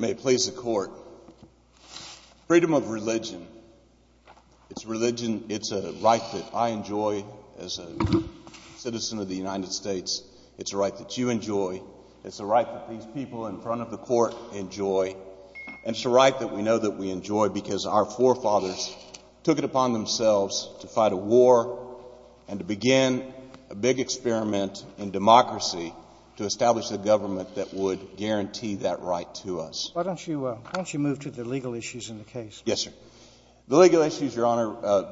May it please the Court. Freedom of religion. It's a religion, it's a right that I enjoy as a citizen of the United States. It's a right that you enjoy. It's a right that these people in front of the Court enjoy. And it's a right that we know that we enjoy because our forefathers took it upon themselves to fight a war and to begin a big experiment in democracy to establish a government that would guarantee that right to us. Why don't you move to the legal issues in the case? Yes, sir. The legal issues, Your Honor,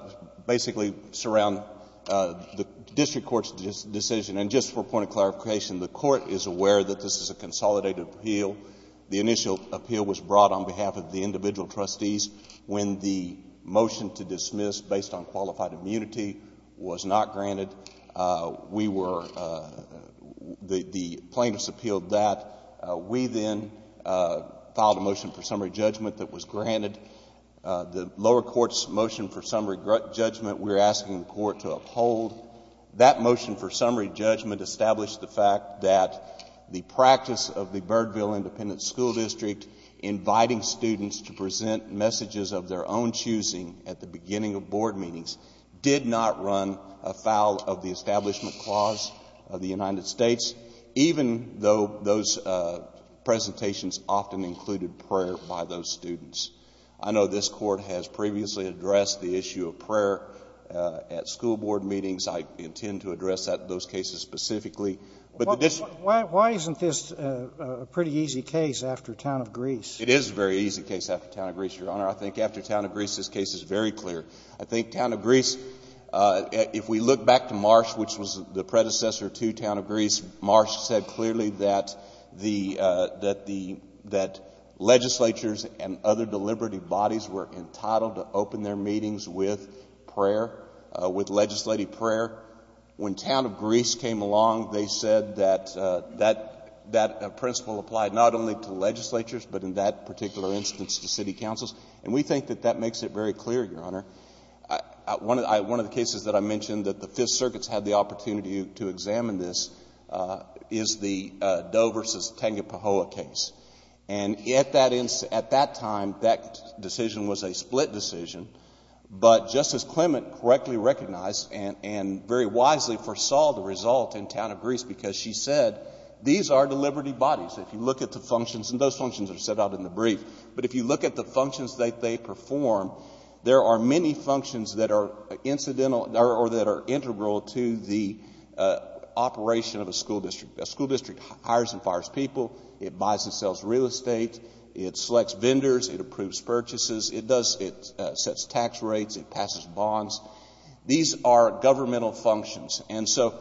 basically surround the district court's decision. And just for a point of clarification, the Court is aware that this is a consolidated appeal. The initial appeal was brought on behalf of the individual trustees. When the motion to dismiss based on qualified immunity was not granted, we were, the plaintiffs appealed that. We then filed a motion for summary judgment that was granted. The lower court's motion for summary judgment we're asking the Court to uphold. That motion for summary judgment established the fact that the practice of the Birdville Independent School District inviting students to present messages of their own choosing at the beginning of board meetings did not run afoul of the Establishment Clause of the United States, even though those presentations often included prayer by those students. I know this Court has previously addressed the issue of prayer at school board meetings. I intend to address those cases specifically. But why isn't this a pretty easy case after Town of Greece? It is a very easy case after Town of Greece, Your Honor. I think after Town of Greece, this case is very clear. I think Town of Greece, if we look back to Marsh, which was the predecessor to Town of Greece, Marsh said clearly that the, that the, that legislatures and other deliberative bodies were entitled to open their meetings with prayer, with legislative prayer. When Town of Greece came along, they said that, that, that principle applied not only to legislatures, but in that particular instance to city councils. And we think that that makes it very clear, Your Honor. One of the cases that I mentioned that the Fifth Circuit's had the opportunity to examine this is the Doe versus Tangipahoa case. And at that, at that time, that decision was a split decision. But Justice Clement correctly recognized and, and very wisely foresaw the result in Town of Greece, because she said, these are deliberative bodies. If you look at the functions, and those functions are set out in the brief, but if you look at the functions that they perform, there are many functions that are incidental or that are integral to the operation of a school district. A school district hires and fires people. It buys and sells real estate. It selects vendors. It approves purchases. It does, it sets tax rates. It passes bonds. These are governmental functions. And so,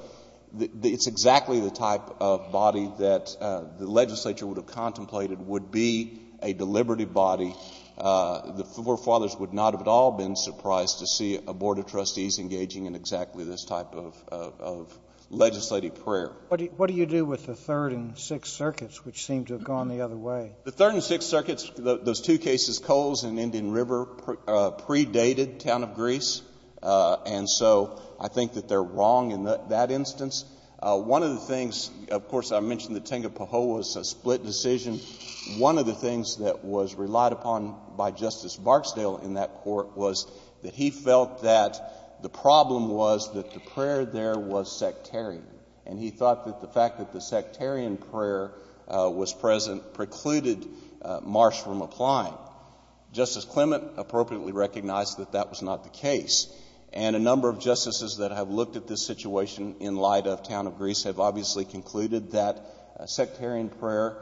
it's exactly the type of body that the legislature would have contemplated would be a deliberative body. The forefathers would not have at all been surprised to see a board of trustees engaging in exactly this type of, of legislative prayer. What do you do with the Third and Sixth Circuits, which seem to have gone the other way? The Third and Sixth Circuits, those two cases, Coles and Indian River, predated Town of Greece. And so, I think that they're wrong in that instance. One of the things, of course, I mentioned the Tangipahoa was a split decision. One of the things that was relied upon by the court, the problem was that the prayer there was sectarian. And he thought that the fact that the sectarian prayer was present precluded Marsh from applying. Justice Clement appropriately recognized that that was not the case. And a number of justices that have looked at this situation in light of Town of Greece have obviously concluded that sectarian prayer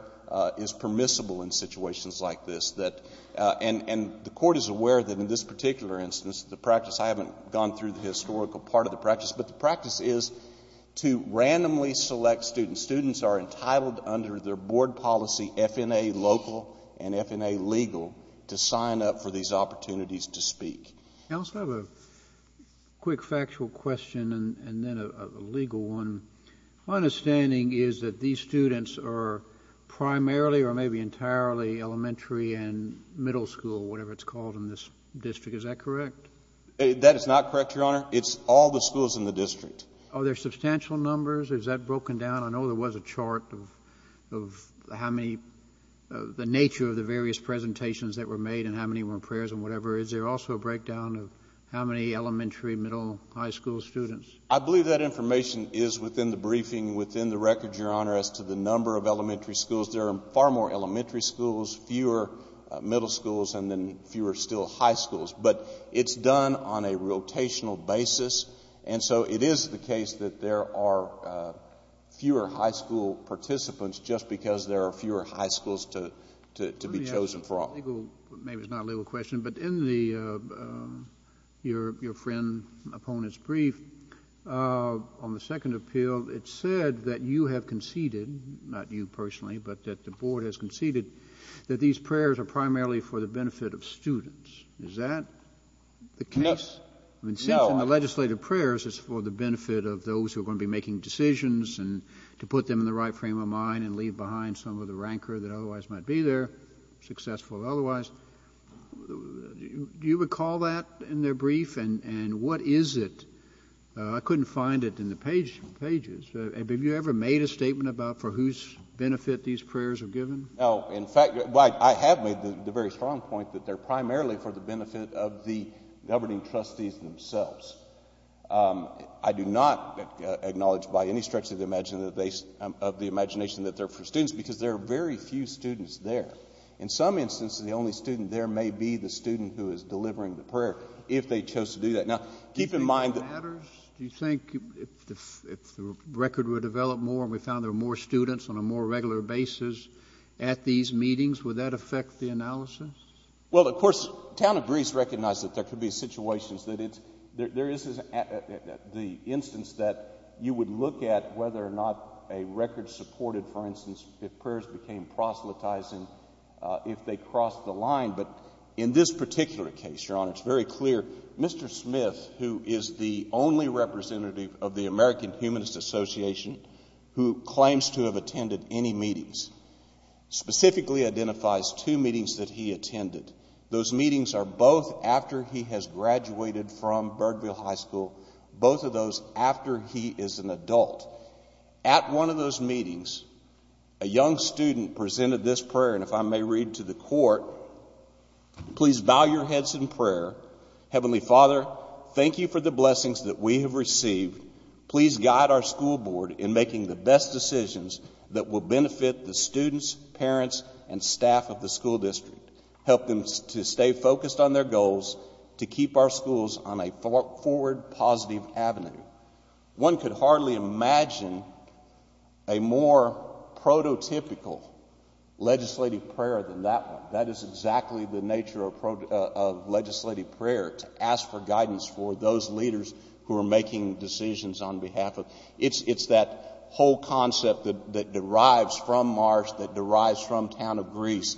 is permissible in situations like this. That, and, and the court is aware that in this particular instance, the practice, I haven't gone through the historical part of the practice, but the practice is to randomly select students. Students are entitled under their board policy, FNA local and FNA legal, to sign up for these opportunities to speak. I also have a quick factual question and then a legal one. My understanding is that these students are primarily or maybe entirely elementary and middle school, whatever it's called in this district. Is that correct? That is not correct, Your Honor. It's all the schools in the district. Are there substantial numbers? Is that broken down? I know there was a chart of how many, the nature of the various presentations that were made and how many were prayers and whatever. Is there also a breakdown of how many elementary, middle, high school students? I believe that information is within the briefing, within the record, Your Honor, as to the number of elementary schools. There are far more elementary schools, fewer middle schools, and then fewer still high schools. But it's done on a rotational basis. And so it is the case that there are fewer high school participants just because there are fewer high schools to be chosen from. Let me ask a legal, maybe it's not a legal question, but in the, your friend, opponent's brief, on the second appeal, it said that you have conceded, not you personally, but that the board has conceded that these prayers are primarily for the benefit of students. Is that the case? No. I mean, since in the legislative prayers it's for the benefit of those who are going to be making decisions and to put them in the right frame of mind and leave behind some of the rancor that otherwise might be there, successful or otherwise, do you recall that in their brief? And what is it? I couldn't find it in the pages. Have you ever made a statement about for whose benefit these prayers are given? No. In fact, I have made the very strong point that they're primarily for the benefit of the governing trustees themselves. I do not acknowledge by any stretch of the imagination that they're for students because there are very few students there. In some instances, the only student there may be the student who is delivering the prayer, if they chose to do that. Now, keep in mind that— Do you think it matters? Do you think if the record were developed more and we found there were more students on a more regular basis at these meetings, would that affect the analysis? Well, of course, the town of Brees recognizes that there could be situations that it's—there is the instance that you would look at whether or not a record supported, for instance, if prayers became proselytizing if they crossed the line. But in this particular case, Your Honor, it's very clear. Mr. Smith, who is the only representative of the American Humanist Association who claims to have attended any meetings, specifically identifies two meetings that he attended. Those meetings are both after he has graduated from Birdville High School, both of those after he is an adult. At one of those meetings, a young student presented this prayer, and if I may read to the court, please bow your heads in prayer. Heavenly Father, thank you for the blessings that we have received. Please guide our school board in making the best decisions that will benefit the students, parents, and staff of the school district. Help them to stay focused on their goals, to keep our schools on a forward positive avenue. One could hardly imagine a more prototypical legislative prayer than that one. That is exactly the nature of legislative prayer, to ask for guidance for those leaders who are making decisions on behalf of—it's that whole concept that derives from Mars, that derives from Town of Greece.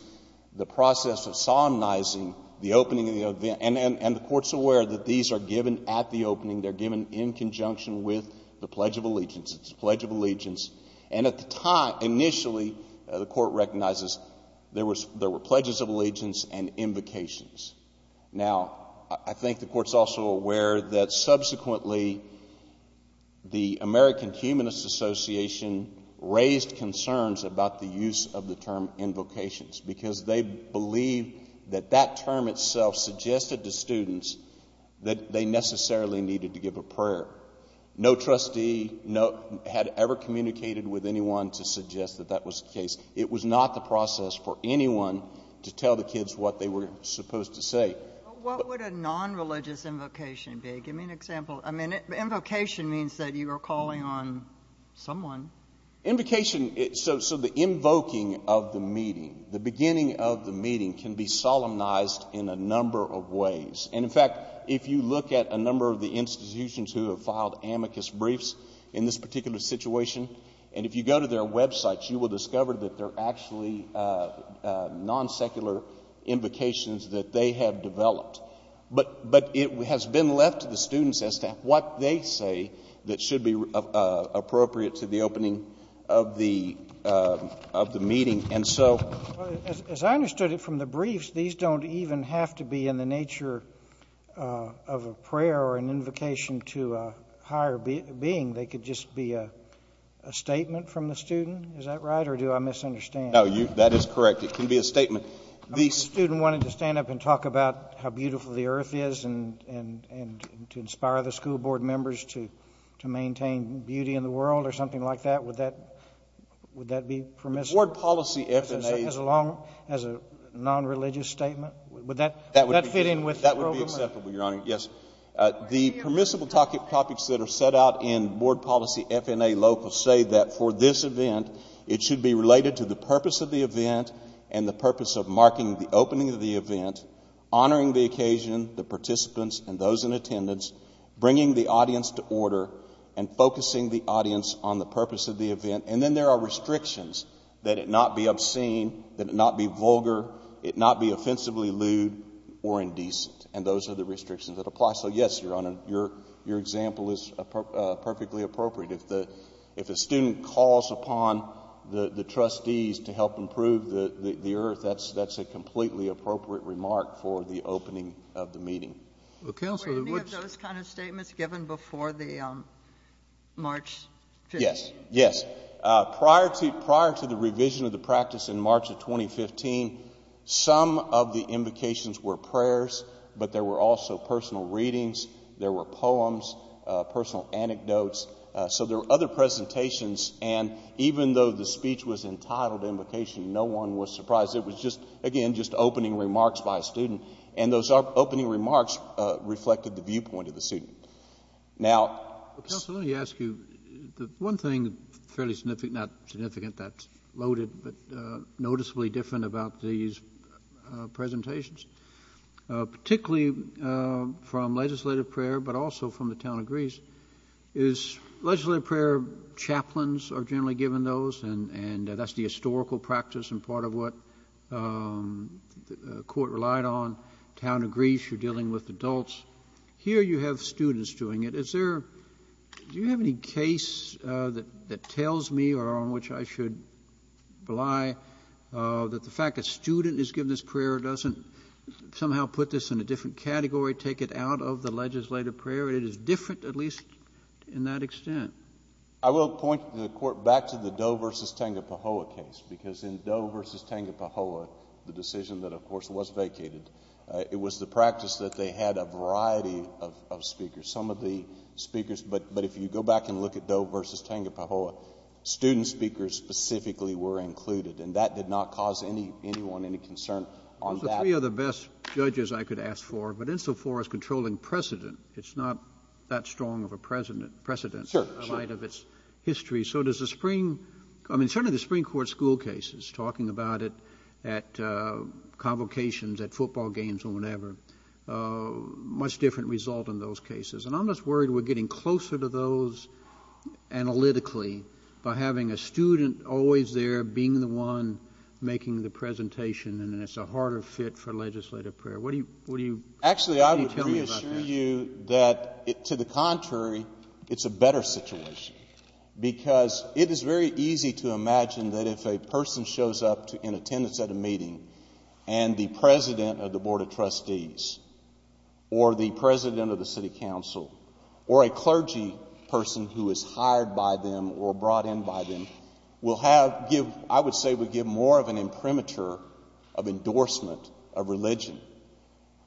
The process of solemnizing the opening of the—and the Court is aware that these are given at the opening. They are given in conjunction with the Pledge of Allegiance. It's the Pledge of Allegiance. And at the time—initially, the Court recognizes there were Pledges of Allegiance and Invocations. Now, I think the Court is also aware that subsequently, the American Humanist Association raised concerns about the use of the term invocations, because they believed that that term itself suggested to students that they necessarily needed to give a prayer. No trustee had ever communicated with anyone to suggest that that was the case. It was not the process for anyone to tell the kids what they were supposed to say. But what would a non-religious invocation be? Give me an example. I mean, invocation means that you are calling on someone. Invocation—so the invoking of the meeting, the beginning of the meeting, can be solemnized in a number of ways. And in fact, if you look at a number of the institutions who have filed amicus briefs in this particular situation, and if you go to their websites, you will discover that they're actually non-secular invocations that they have developed. But it has been left to the students as to what they say that should be appropriate to the opening of the meeting. And so— As I understood it from the briefs, these don't even have to be in the nature of a prayer being. They could just be a statement from the student. Is that right? Or do I misunderstand? No, you—that is correct. It can be a statement. The student wanted to stand up and talk about how beautiful the earth is and to inspire the school board members to maintain beauty in the world or something like that. Would that be permissible? The board policy F&A— As a long—as a non-religious statement? Would that fit in with the program? That would be acceptable, Your Honor. Yes. The permissible topics that are set out in board policy F&A local say that for this event, it should be related to the purpose of the event and the purpose of marking the opening of the event, honoring the occasion, the participants, and those in attendance, bringing the audience to order, and focusing the audience on the purpose of the event. And then there are restrictions that it not be obscene, that it not be vulgar, it not be offensively lewd or indecent. And those are the restrictions that apply. So, yes, Your Honor, your example is perfectly appropriate. If the student calls upon the trustees to help improve the earth, that's a completely appropriate remark for the opening of the meeting. Well, Counselor, would— Were any of those kind of statements given before the March 15th? Yes. Yes. Prior to the revision of the practice in March of 2015, some of the invocations were prayers, but there were also personal readings, there were poems, personal anecdotes. So there were other presentations. And even though the speech was entitled Invocation, no one was surprised. It was just, again, just opening remarks by a student. And those opening remarks reflected the viewpoint of the student. Now— Well, Counselor, let me ask you, the one thing fairly significant—not significant, that's particularly from legislative prayer, but also from the town of Greece—is legislative prayer chaplains are generally given those, and that's the historical practice and part of what the Court relied on. Town of Greece, you're dealing with adults. Here you have students doing it. Is there—do you have any case that tells me or on which I should rely that the fact a student is given this prayer doesn't somehow put this in a different category, take it out of the legislative prayer? It is different, at least in that extent. I will point the Court back to the Doe v. Tangapahoa case, because in Doe v. Tangapahoa, the decision that, of course, was vacated, it was the practice that they had a variety of speakers. Some of the speakers—but if you go back and look at Doe v. Tangapahoa, student speakers specifically were included, and that did not cause anyone any concern on that. Those are three of the best judges I could ask for, but insofar as controlling precedent, it's not that strong of a precedent in light of its history. Sure, sure. So does the spring—I mean, certainly the Supreme Court school cases, talking about it at convocations, at football games or whatever, much different result in those cases. And I'm just worried we're getting closer to those analytically by having a student always there being the one making the presentation, and it's a harder fit for legislative prayer. What do you tell me about that? Actually, I would reassure you that, to the contrary, it's a better situation, because it is very easy to imagine that if a person shows up in attendance at a meeting and the or a clergy person who is hired by them or brought in by them will have—I would say would give more of an imprimatur of endorsement of religion.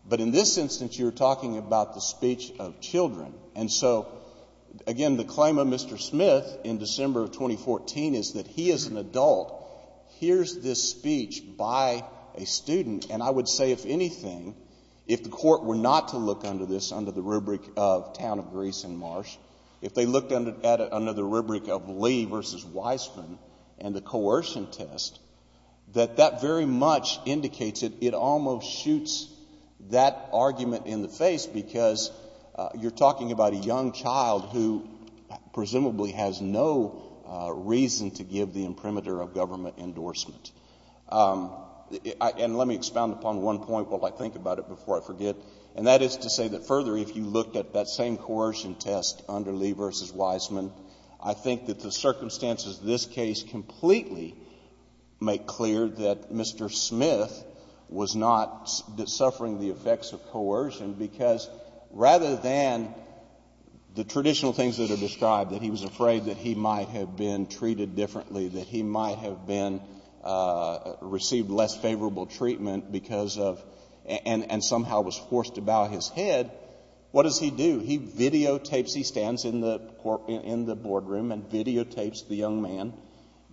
But in this instance, you're talking about the speech of children. And so, again, the claim of Mr. Smith in December of 2014 is that he as an adult hears this speech by a student, and I would say, if anything, if the court were not to look under this, under the rubric of Town of Greece and Marsh, if they looked at it under the rubric of Lee v. Weissman and the coercion test, that that very much indicates it almost shoots that argument in the face, because you're talking about a young child who presumably has no reason to give the imprimatur of government about it before I forget. And that is to say that, further, if you looked at that same coercion test under Lee v. Weissman, I think that the circumstances of this case completely make clear that Mr. Smith was not suffering the effects of coercion, because rather than the traditional things that are described, that he was afraid that he might have been treated differently, that he might have been—received less favorable treatment because of—and somehow was forced to bow his head, what does he do? He videotapes—he stands in the boardroom and videotapes the young man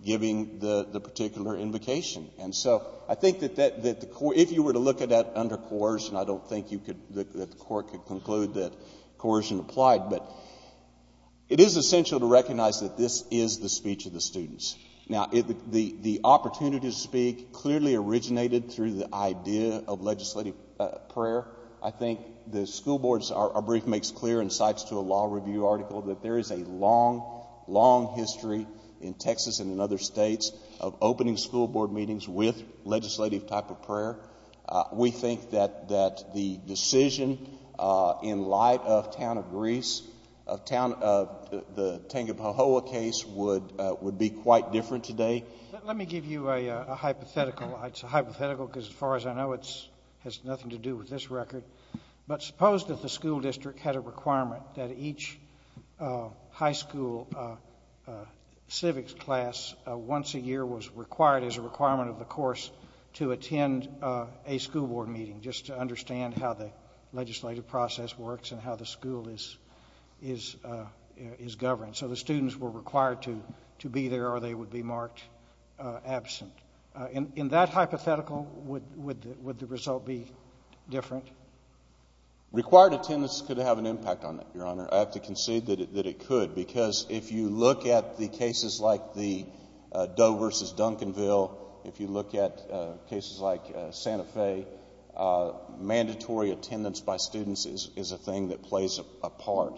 giving the particular invocation. And so I think that the—if you were to look at that under coercion, I don't think you could—that the court could conclude that coercion applied, but it is essential to recognize that this is the speech of the school board. I think the school boards—our brief makes clear, and cites to a law review article, that there is a long, long history in Texas and in other states of opening school board meetings with legislative type of prayer. We think that the decision in light of town of Greece, of town of—the Tangipahoa case would be quite different today. Let me give you a hypothetical. It's a hypothetical because, as far as I know, it has nothing to do with this record. But suppose that the school district had a requirement that each high school civics class once a year was required as a requirement of the course to attend a school board meeting, just to understand how the legislative process works and how the school is governed. So the students were required to be there or they would be different? Required attendance could have an impact on it, Your Honor. I have to concede that it could, because if you look at the cases like the Doe versus Duncanville, if you look at cases like Santa Fe, mandatory attendance by students is a thing that plays a part.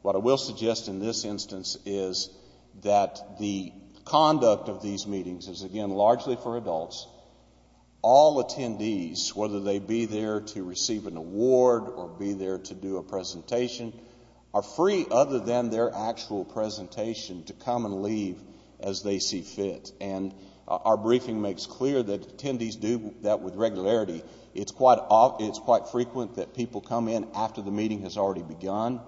What I will suggest in this instance is that the conduct of these meetings is, again, largely for adults. All attendees, whether they be there to receive an award or be there to do a presentation, are free other than their actual presentation to come and leave as they see fit. And our briefing makes clear that attendees do that with regularity. It's quite frequent that people come in after the meeting has already begun.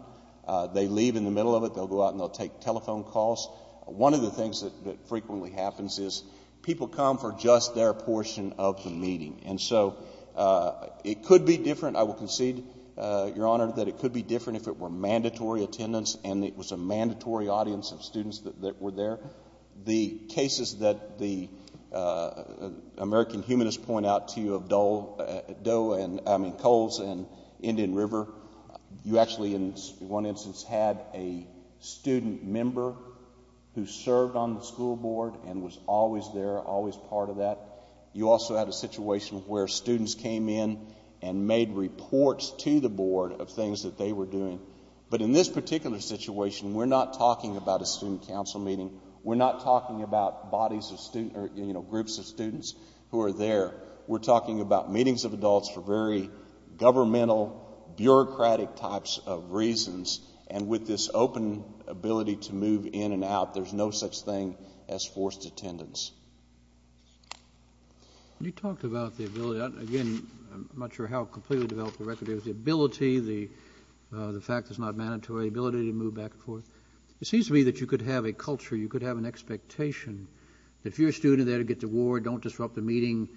They leave in the middle of it. They'll go out and they'll take telephone calls. One of the things that frequently happens is people come for just their portion of the meeting. And so it could be different, I will concede, Your Honor, that it could be different if it were mandatory attendance and it was a mandatory audience of students that were there. The cases that the American humanists point out to you of Doe and, I mean, Coles and Indian River, you actually in one instance had a student member who served on the school board and was always there, always part of that. You also had a situation where students came in and made reports to the board of things that they were doing. But in this particular situation, we're not talking about a student council meeting. We're not talking about bodies of students or, you know, groups of students who are there. We're talking about meetings of adults for very governmental, bureaucratic types of reasons. And with this open ability to move in and out, there's no such thing as forced attendance. You talked about the ability. Again, I'm not sure how completely to develop the record of the ability, the fact it's not mandatory, the ability to move back and forth. It seems to me that you could have a culture, you could have an expectation that if you're a student there to get the award, don't disrupt the meeting,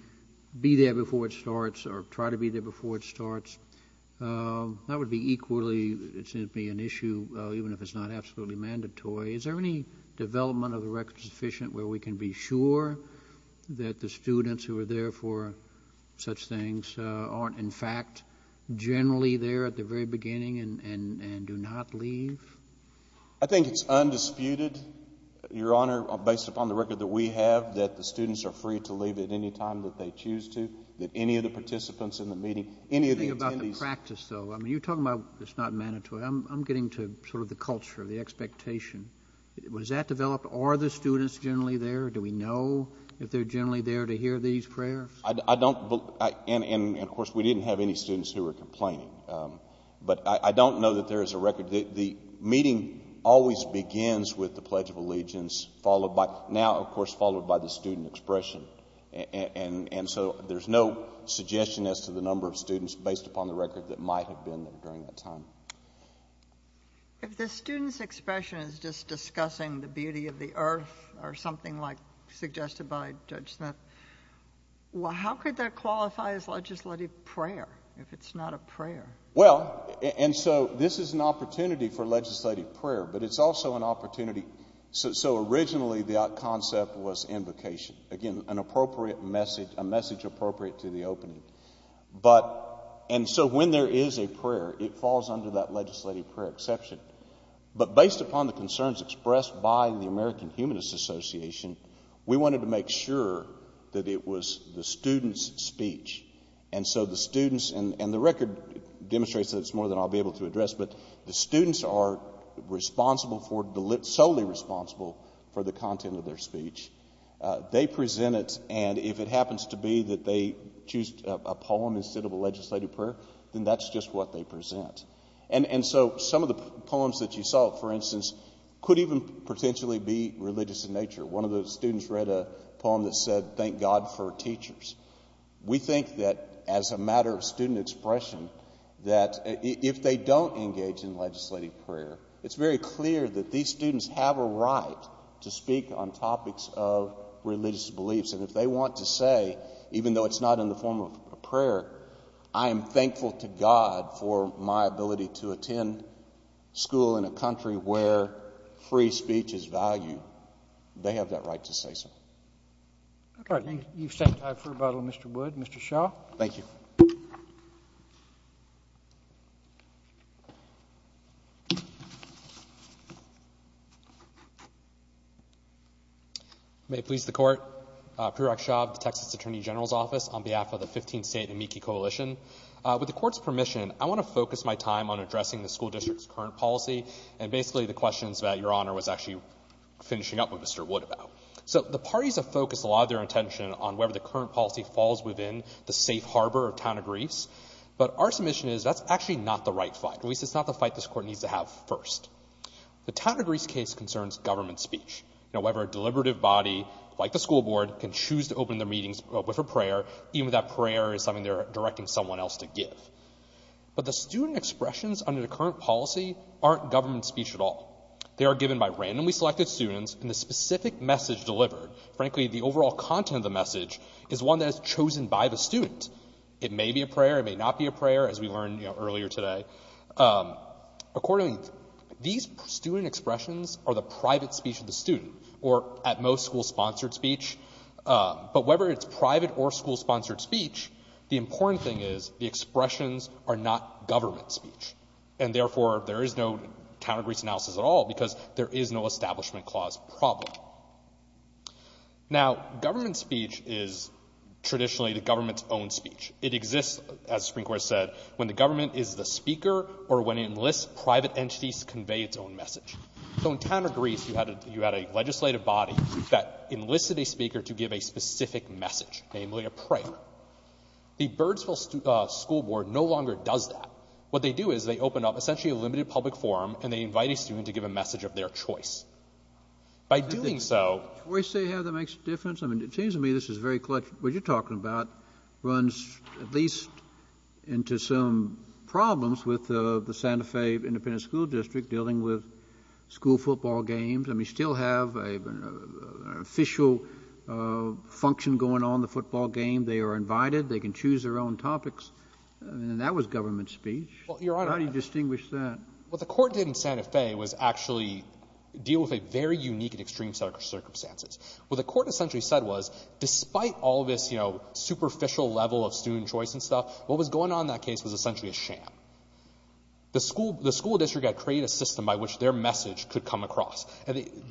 be there before it starts or try to be there before it starts. That would be equally, it seems to be an issue even if it's not absolutely mandatory. Is there any development of the record sufficient where we can be sure that the students who are there for such things aren't, in fact, generally there at the very beginning and do not leave? I think it's undisputed, Your Honor, based upon the record that we have, that the students are free to leave at any time that they choose to, that any of the participants in the meeting, any of the attendees... I'm thinking about the practice, though. I mean, you're talking about it's not mandatory. I'm getting to sort of the culture, the expectation. Was that developed? Are the students generally there? Do we know if they're generally there to hear these prayers? I don't, and of course, we didn't have any students who were complaining. But I don't know that there is a record. The meeting always begins with the Pledge of Allegiance, followed by the student expression. And so there's no suggestion as to the number of students based upon the record that might have been there during that time. If the student's expression is just discussing the beauty of the earth or something like suggested by Judge Smith, how could that qualify as legislative prayer if it's not a prayer? And so this is an opportunity for legislative prayer, but it's also an opportunity... So originally, the concept was invocation. Again, a message appropriate to the opening. And so when there is a prayer, it falls under that legislative prayer exception. But based upon the concerns expressed by the American Humanist Association, we wanted to make sure that it was the student's speech. And so the students... And the record demonstrates that it's more than I'll be able to address, but the students are responsible for... Solely responsible for the content of their speech. They present it, and if it happens to be that they choose a poem instead of a legislative prayer, then that's just what they present. And so some of the poems that you saw, for instance, could even potentially be religious in nature. One of the students read a poem that said, Thank God for Teachers. We think that as a matter of student expression, that if they don't engage in legislative prayer, it's very clear that these students have a right to speak on topics of religious beliefs. And if they want to say, even though it's not in the form of a prayer, I am thankful to God for my ability to attend school in a country where free speech is valued, they have that right to say so. All right. You've set time for rebuttal, Mr. Wood. Mr. Shaw. Thank you. May it please the Court. Prerak Shaw of the Texas Attorney General's Office on behalf of the 15th State and Meeky Coalition. With the Court's permission, I want to focus my time on addressing the school district's current policy, and basically the questions that Your Honor was actually finishing up with Mr. Wood about. So the parties have focused a lot of their attention on whether the current policy falls within the safe harbor of Town of Greece, but our submission is that's actually not the right fight. At least it's not the fight this Court needs to have first. The Town of Greece case concerns government speech. However, a deliberative body like the school board can choose to open their meetings with a prayer, even if that prayer is something they're directing someone else to give. But the student expressions under the current policy aren't government speech at all. They are given by randomly selected students, and the specific message delivered, frankly the student, by the student. It may be a prayer, it may not be a prayer, as we learned earlier today. Accordingly, these student expressions are the private speech of the student, or at most school-sponsored speech. But whether it's private or school-sponsored speech, the important thing is the expressions are not government speech. And therefore, there is no Town of Greece analysis at all, because there is no establishment clause problem. Now, government speech is traditionally the government's own speech. It exists, as the Supreme Court said, when the government is the speaker, or when it enlists private entities to convey its own message. So in Town of Greece, you had a legislative body that enlisted a speaker to give a specific message, namely a prayer. The Birdsville School Board no longer does that. What they do is they open up essentially a limited public forum, and they invite a message of their choice. By doing so — JUSTICE KENNEDY. Do we say how that makes a difference? I mean, it seems to me this is very — what you're talking about runs at least into some problems with the Santa Fe Independent School District dealing with school football games. I mean, you still have an official function going on in the football game. They are invited. They can choose their own topics. I mean, that was government speech. MR. RAUMENBURG. Well, Your Honor — JUSTICE KENNEDY. How do you distinguish that? MR. RAUMENBURG. What the court did in Santa Fe was actually deal with a very unique and extreme set of circumstances. What the court essentially said was, despite all this, you know, superficial level of student choice and stuff, what was going on in that case was essentially a sham. The school district had created a system by which their message could come across,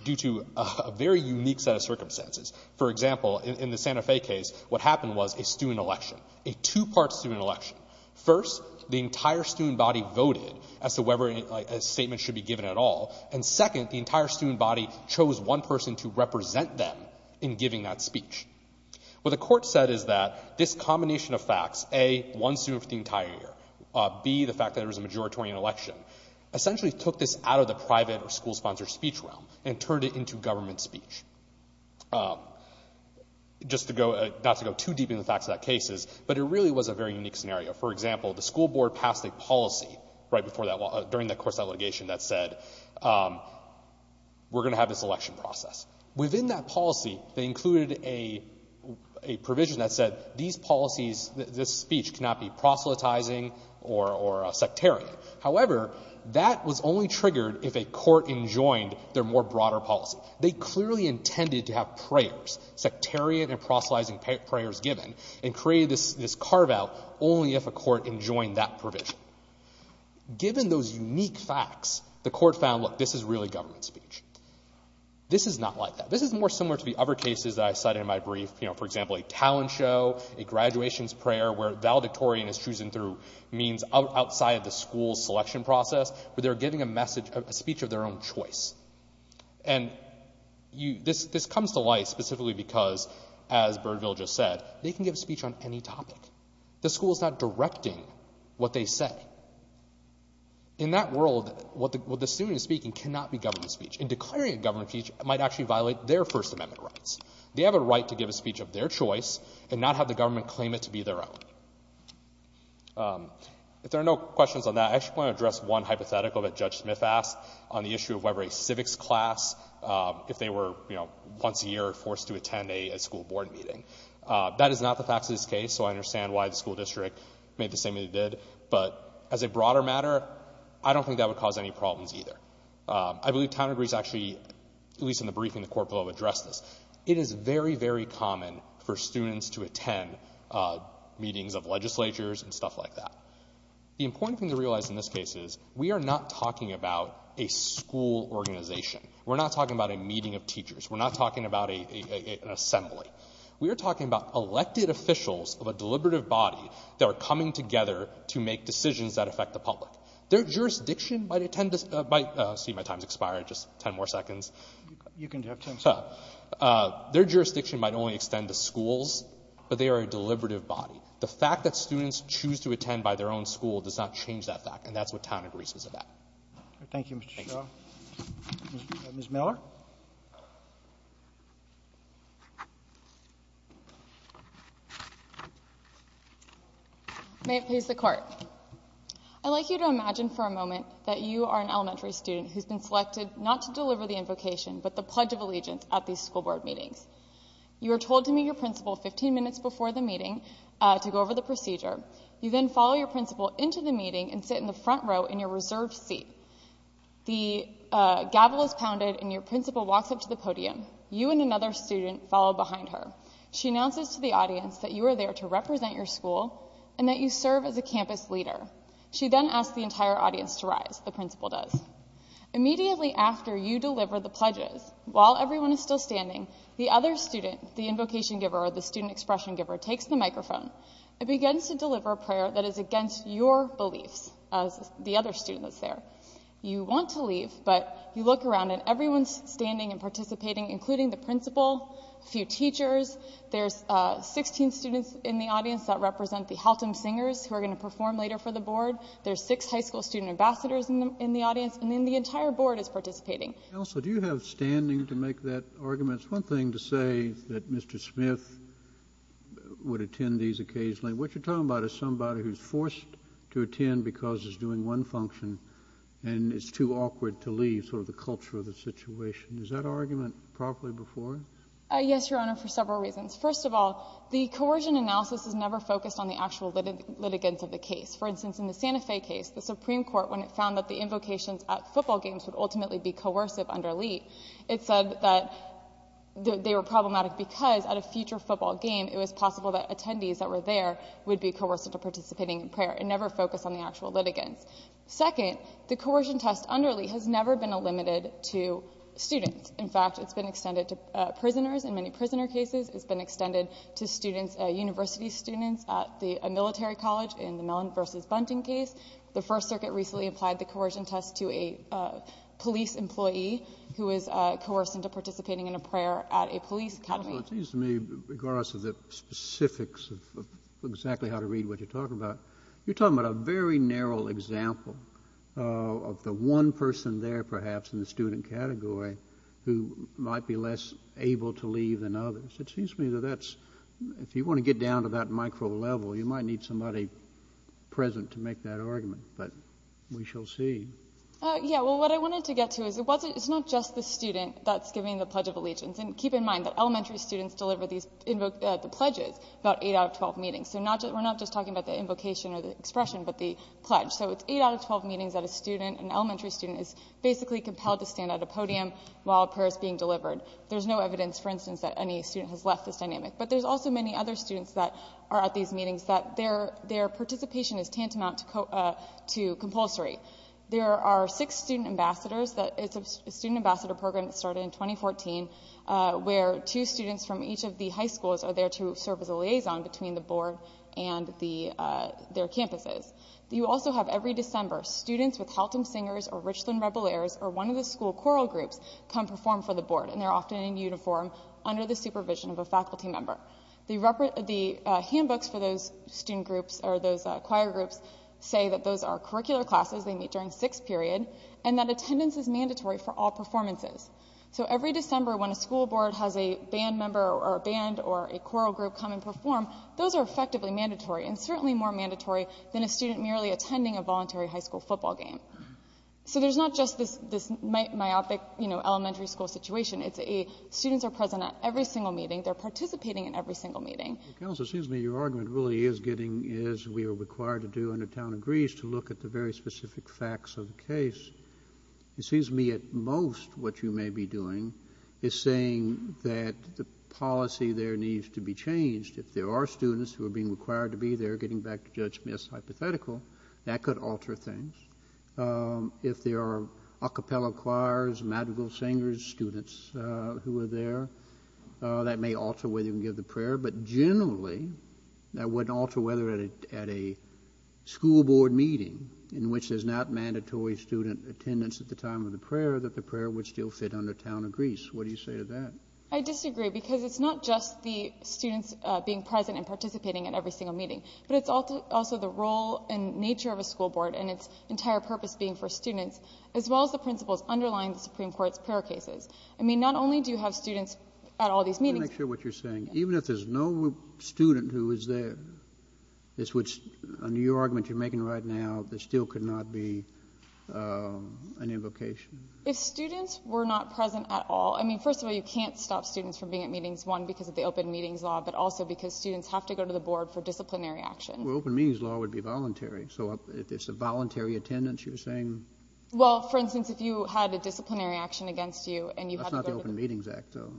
due to a very unique set of circumstances. For example, in the Santa Fe case, what happened was a student election, a two-part student election. First, the entire student body voted as to whether a statement should be given at all. And second, the entire student body chose one person to represent them in giving that speech. What the court said is that this combination of facts, A, one student for the entire year, B, the fact that it was a majoritarian election, essentially took this out of the private or school-sponsored speech realm and turned it into government speech. Just to go — not to go too deep into the facts of that case, but it really was a very unique scenario. For example, the school board passed a policy right before that — during that court's litigation that said, we're going to have this election process. Within that policy, they included a provision that said, these policies, this speech cannot be proselytizing or sectarian. However, that was only triggered if a court enjoined their more broader policy. They clearly intended to have prayers, sectarian and proselytizing prayers given, and created this carve-out only if a court enjoined that provision. Given those unique facts, the court found, look, this is really government speech. This is not like that. This is more similar to the other cases that I cited in my brief. For example, a talent show, a graduations prayer where valedictorian is chosen through means outside of the school's selection process, where they're giving a message — a speech of their own choice. And this comes to light specifically because, as Birdville just said, they can give a speech on any topic. The school is not directing what they say. In that world, what the student is speaking cannot be government speech. And declaring a government speech might actually violate their First Amendment rights. They have a right to give a speech of their choice and not have the government claim it to be their own. If there are no questions on that, I actually want to address one hypothetical that Judge Smith asked on the issue of whether a civics class, if they were, you know, once a year forced to attend a school board meeting. That is not the fact of this case, so I understand why the school district made the same move they did. But as a broader matter, I don't think that would cause any problems either. I believe town agrees actually, at least in the briefing, the court will have addressed this. It is very, very common for students to attend meetings of legislatures and stuff like that. The important thing to realize in this case is we are not talking about a school organization. We are not talking about a meeting of teachers. We are not talking about an assembly. We are talking about elected officials of a deliberative body that are coming together to make decisions that affect the public. Their jurisdiction might attend to, excuse me, my time has expired, just 10 more seconds. You can have 10 seconds. Their jurisdiction might only extend to schools, but they are a deliberative body. The fact that students choose to attend by their own school does not change that fact, and that is what town agrees is about. Thank you, Mr. Shaw. Ms. Miller? May it please the court. I'd like you to imagine for a moment that you are an elementary student who's been selected not to deliver the invocation, but the Pledge of Allegiance at these school board meetings. You are told to meet your principal 15 minutes before the meeting to go over the procedure. You then follow your principal into the meeting and sit in the reserved seat. The gavel is pounded and your principal walks up to the podium. You and another student follow behind her. She announces to the audience that you are there to represent your school and that you serve as a campus leader. She then asks the entire audience to rise, the principal does. Immediately after you deliver the pledges, while everyone is still standing, the other student, the invocation giver or the student expression giver, takes the microphone and begins to deliver a prayer that is against your beliefs, as the other student that's there. You want to leave, but you look around and everyone's standing and participating, including the principal, a few teachers, there's 16 students in the audience that represent the Haltom Singers who are going to perform later for the board, there's six high school student ambassadors in the audience, and then the entire board is participating. Also, do you have standing to make that argument? It's one thing to say that Mr. Smith would attend these occasionally. What you're talking about is somebody who's forced to attend because he's doing one function and it's too awkward to leave, sort of the culture of the situation. Is that argument properly before you? Yes, Your Honor, for several reasons. First of all, the coercion analysis is never focused on the actual litigants of the case. For instance, in the Santa Fe case, the Supreme Court, when it found that the invocations at football games would ultimately be coercive under Lee, it said that they were problematic because at a future football game, it was possible that attendees that were there would be coercive to participating in prayer. It never focused on the actual litigants. Second, the coercion test under Lee has never been limited to students. In fact, it's been extended to prisoners. In many prisoner cases, it's been extended to students, university students, at a military college in the Mellon v. Bunting case. The First Circuit recently applied the coercion test to a police employee who was coerced into participating in a prayer at a police academy. Counsel, it seems to me, regardless of the specifics of exactly how to read what you're talking about, a very narrow example of the one person there, perhaps, in the student category who might be less able to leave than others. It seems to me that that's, if you want to get down to that micro level, you might need somebody present to make that argument, but we shall see. Yeah, well, what I wanted to get to is it's not just the student that's giving the Pledge of Allegiance. And keep in mind that elementary students deliver the pledges about 8 out of 12 meetings that a student, an elementary student, is basically compelled to stand at a podium while a prayer is being delivered. There's no evidence, for instance, that any student has left this dynamic. But there's also many other students that are at these meetings that their participation is tantamount to compulsory. There are six student ambassadors. It's a student ambassador program that started in 2014, where two students from each of the campuses. You also have, every December, students with Haltom Singers or Richland Rebel Lairs or one of the school choral groups come perform for the board, and they're often in uniform under the supervision of a faculty member. The handbooks for those student groups or those choir groups say that those are curricular classes they meet during sixth period, and that attendance is mandatory for all performances. So every December, when a school board has a band member or a band or a choral group come and perform, those are effectively mandatory and certainly more mandatory than a student merely attending a voluntary high school football game. So there's not just this myopic elementary school situation. It's a students are present at every single meeting. They're participating in every single meeting. Well, Counsel, it seems to me your argument really is getting, as we are required to do under Town of Greece, to look at the very specific facts of the case. It seems to me at most what you may be doing is saying that the policy there needs to be changed. If there are students who are being required to be there, getting back to Judge Smith's hypothetical, that could alter things. If there are a cappella choirs, madrigal singers, students who are there, that may alter whether you can give the prayer. But generally, that wouldn't alter whether at a school board meeting in which there's not mandatory student attendance at the time of the prayer, that the prayer would still fit under Town of Greece. What do you say to that? I disagree, because it's not just the students being present and participating at every single meeting, but it's also the role and nature of a school board and its entire purpose being for students, as well as the principles underlying the Supreme Court's prayer cases. I mean, not only do you have students at all these meetings. Let me make sure what you're saying. Even if there's no student who is there, it's what's, under your argument you're making right now, there still could not be an invocation? If students were not present at all, I mean, first of all, you can't stop students from being at meetings, one, because of the Open Meetings Law, but also because students have to go to the board for disciplinary action. Well, Open Meetings Law would be voluntary. So if it's a voluntary attendance, you're saying? Well, for instance, if you had a disciplinary action against you and you had to go to the board. That's not the Open Meetings Act, though.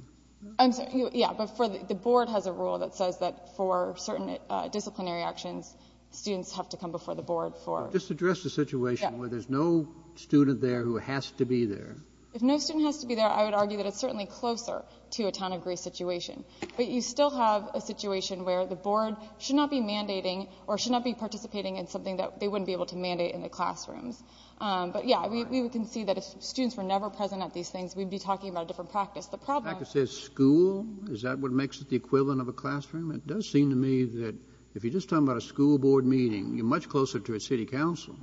I'm sorry. Yeah, but the board has a rule that says that for certain disciplinary actions, students have to come before the board for... Just address the situation where there's no student there who has to be there. If no student has to be there, I would argue that it's certainly closer to a Town of Grace situation. But you still have a situation where the board should not be mandating or should not be participating in something that they wouldn't be able to mandate in the classrooms. But yeah, we can see that if students were never present at these things, we'd be talking about a different practice. The problem... I could say school. Is that what makes it the equivalent of a classroom? It does seem to me that if you're just talking about a school board meeting, you're much closer to a city council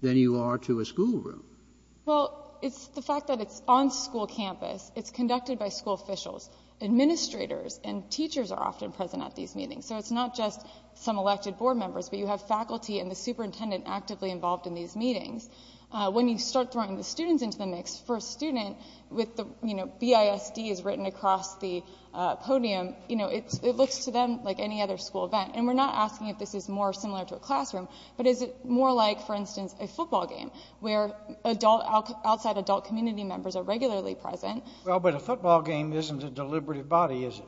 than you are to a school room. Well, it's the fact that it's on school campus. It's conducted by school officials. Administrators and teachers are often present at these meetings. So it's not just some elected board members, but you have faculty and the superintendent actively involved in these meetings. When you start throwing the students into the mix, for a student with the, you know, BISD is written across the podium, you know, it looks to them like any other school event. And we're not asking if this is more similar to a classroom, but is it more like, for instance, a football game where adult, outside adult community members are regularly present? Well, but a football game isn't a deliberative body, is it?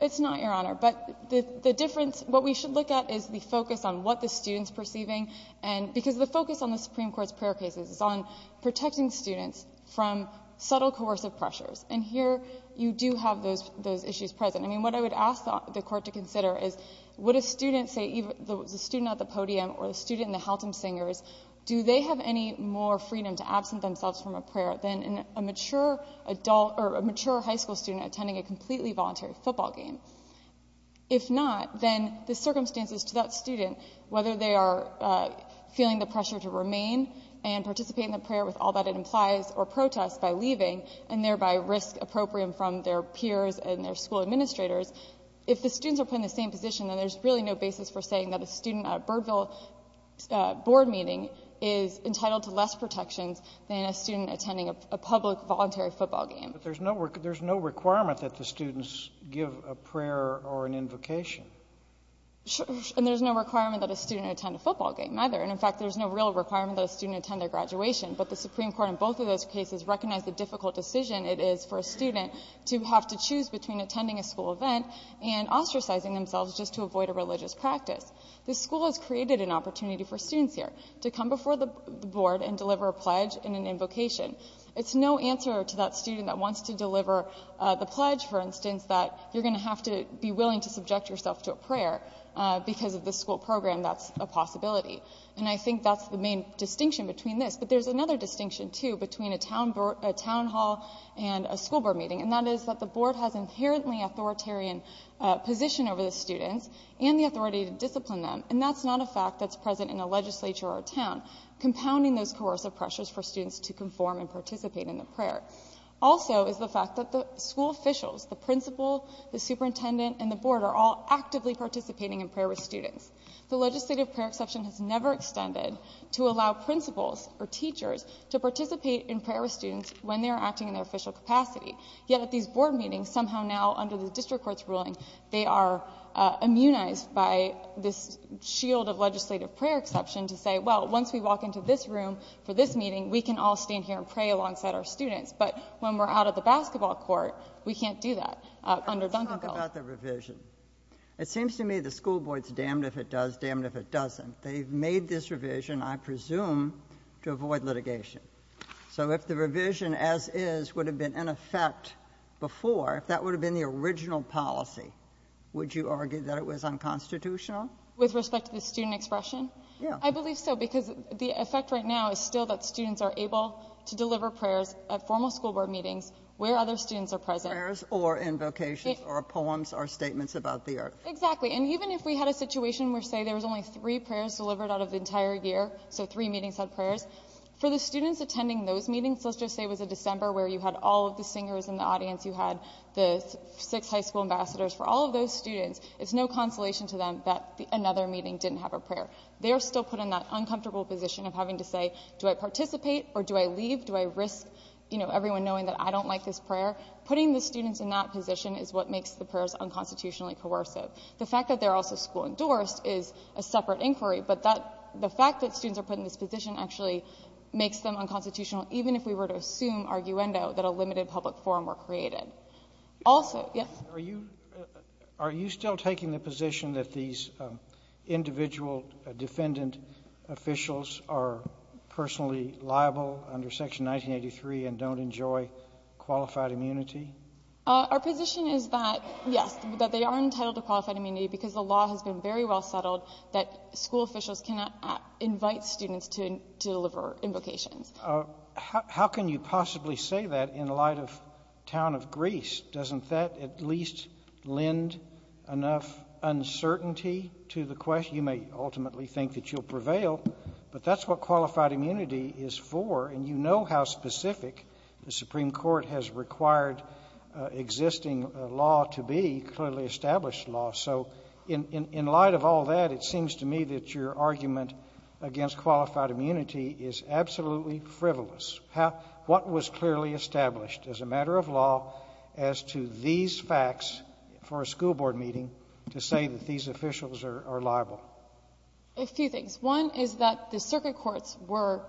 It's not, Your Honor. But the difference, what we should look at is the focus on what the student's perceiving and because the focus on the Supreme Court's prayer cases is on protecting students from subtle coercive pressures. And here you do have those issues present. I mean, what I would ask the Court to consider is would a student say, the student at the podium or the student in the Haltom Singers, do they have any more freedom to absent themselves from a prayer than a mature adult or a mature high school student attending a completely voluntary football game? If not, then the circumstances to that student, whether they are feeling the pressure to remain and participate in the prayer with all that it implies or protest by leaving and thereby risk appropriate from their peers and their school administrators, if the students are put in the same position, then there's really no basis for saying that a student at a Birdville board meeting is entitled to less protections than a student attending a public voluntary football game. But there's no requirement that the students give a prayer or an invocation. And there's no requirement that a student attend a football game either. And, in fact, there's no real requirement that a student attend their graduation. But the Supreme Court in both of those cases recognized the difficult decision it is for a student to have to choose between attending a school event and ostracizing themselves just to avoid a religious practice. The school has created an opportunity for students here to come before the board and deliver a pledge and an invocation. It's no answer to that student that wants to deliver the pledge, for instance, that you're going to have to be willing to subject yourself to a prayer because of the school program. That's a possibility. And I think that's the main distinction between this. But there's another distinction, too, between a town hall and a school board meeting. And that is that the board has inherently authoritarian position over the students and the authority to discipline them. And that's not a fact that's present in a legislature or a town, compounding those coercive pressures for students to conform and participate in the prayer. Also is the fact that the school officials, the principal, the superintendent, and the board are all actively participating in prayer with students. The legislative prayer exception has never extended to allow principals or teachers to participate in prayer with students when they are acting in their official capacity. Yet at these board meetings, somehow now under the district court's ruling, they are immunized by this shield of legislative prayer exception to say, well, once we walk into this room for this meeting, we can all stand here and pray alongside our students. But when we're out at the basketball court, we can't do that under Duncan College. Let's talk about the revision. It seems to me the school board's damned if it does, damned if it doesn't. They've made this revision, I presume, to avoid litigation. So if the revision as is would have been in effect before, if that would have been the original policy, would you argue that it was unconstitutional? With respect to the student expression? Yeah. I believe so, because the effect right now is still that students are able to deliver prayers at formal school board meetings where other students are present. Prayers or invocations or poems or statements about the earth. Exactly. And even if we had a situation where, say, there was only three prayers delivered out of the entire year, so three meetings had prayers, for the students attending those meetings, let's just say it was a December where you had all of the singers in the audience, you had the six high school ambassadors, for all of those students, it's no consolation to them that another meeting didn't have a prayer. They are still put in that uncomfortable position of having to say, do I participate or do I leave? Do I risk, you know, everyone knowing that I don't like this prayer? Putting the students in that position is what makes the prayers unconstitutionally coercive. The fact that they're also school endorsed is a separate inquiry, but the fact that students are put in this position actually makes them unconstitutional, even if we were to assume, arguendo, that a limited public forum were created. Are you still taking the position that these individual defendant officials are personally liable under Section 1983 and don't enjoy qualified immunity? Our position is that, yes, that they are entitled to qualified immunity because the law has been very well settled that school officials cannot invite students to deliver invocations. How can you possibly say that in light of the town of Greece? Doesn't that at least lend enough uncertainty to the question? You may ultimately think that you'll prevail, but that's what qualified immunity is for, and you know how specific the Supreme Court has required existing law to be, clearly established law. So in light of all that, it seems to me that your argument against qualified immunity is absolutely frivolous. What was clearly established as a matter of law as to these facts for a school board meeting to say that these officials are liable? A few things. One is that the circuit courts were,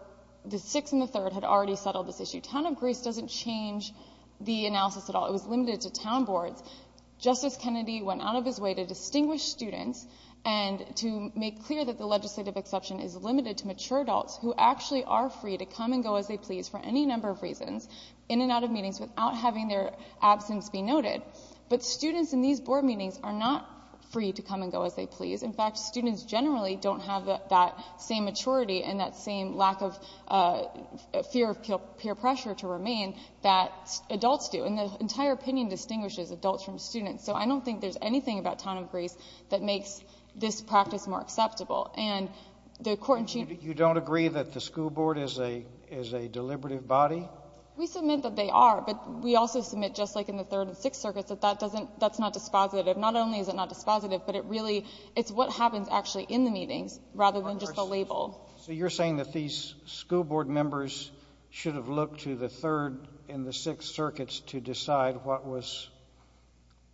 the Sixth and the Third had already the analysis at all. It was limited to town boards. Justice Kennedy went out of his way to distinguish students and to make clear that the legislative exception is limited to mature adults who actually are free to come and go as they please for any number of reasons in and out of meetings without having their absence be noted. But students in these board meetings are not free to come and go as they please. In fact, students generally don't have that same maturity and that same lack of fear of peer pressure to remain that adults do. And the entire opinion distinguishes adults from students. So I don't think there's anything about Town of Grace that makes this practice more acceptable. And the Court in Chief— You don't agree that the school board is a deliberative body? We submit that they are, but we also submit, just like in the Third and Sixth Circuits, that that doesn't, that's not dispositive. Not only is it not dispositive, but it really, it's what happens actually in the meetings rather than just the label. So you're saying that these school board members should have looked to the Third and the Sixth Circuits to decide what was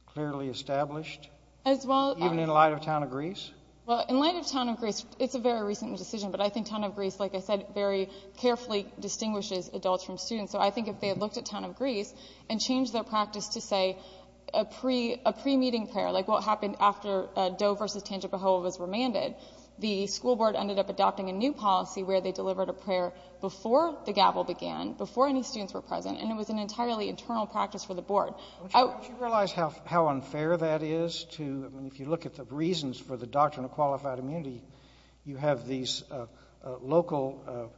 clearly established? As well— Even in light of Town of Grace? Well, in light of Town of Grace, it's a very recent decision, but I think Town of Grace, like I said, very carefully distinguishes adults from students. So I think if they had looked at Town of Grace and changed their practice to, say, a pre-meeting prayer, like what happened after Doe v. Tangipahoa was remanded, the school board ended up adopting a new policy where they delivered a prayer before the gavel began, before any students were present, and it was an entirely internal practice for the board. Don't you realize how unfair that is to, I mean, if you look at the reasons for the doctrine of qualified immunity, you have these local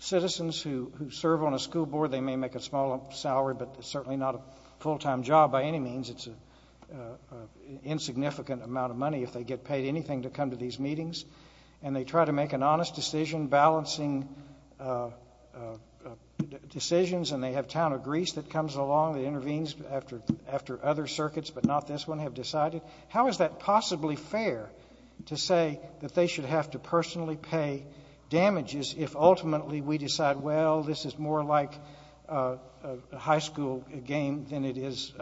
citizens who serve on a school board. They may make a small salary, but it's certainly not a full-time job by any means. It's an insignificant amount of money if they get paid anything to come to these meetings. And they try to make an honest decision, balancing decisions, and they have Town of Grace that comes along, that intervenes after other circuits, but not this one, have decided. How is that possibly fair to say that they should have to personally pay damages if ultimately we decide, well, this is more like a high school game than it is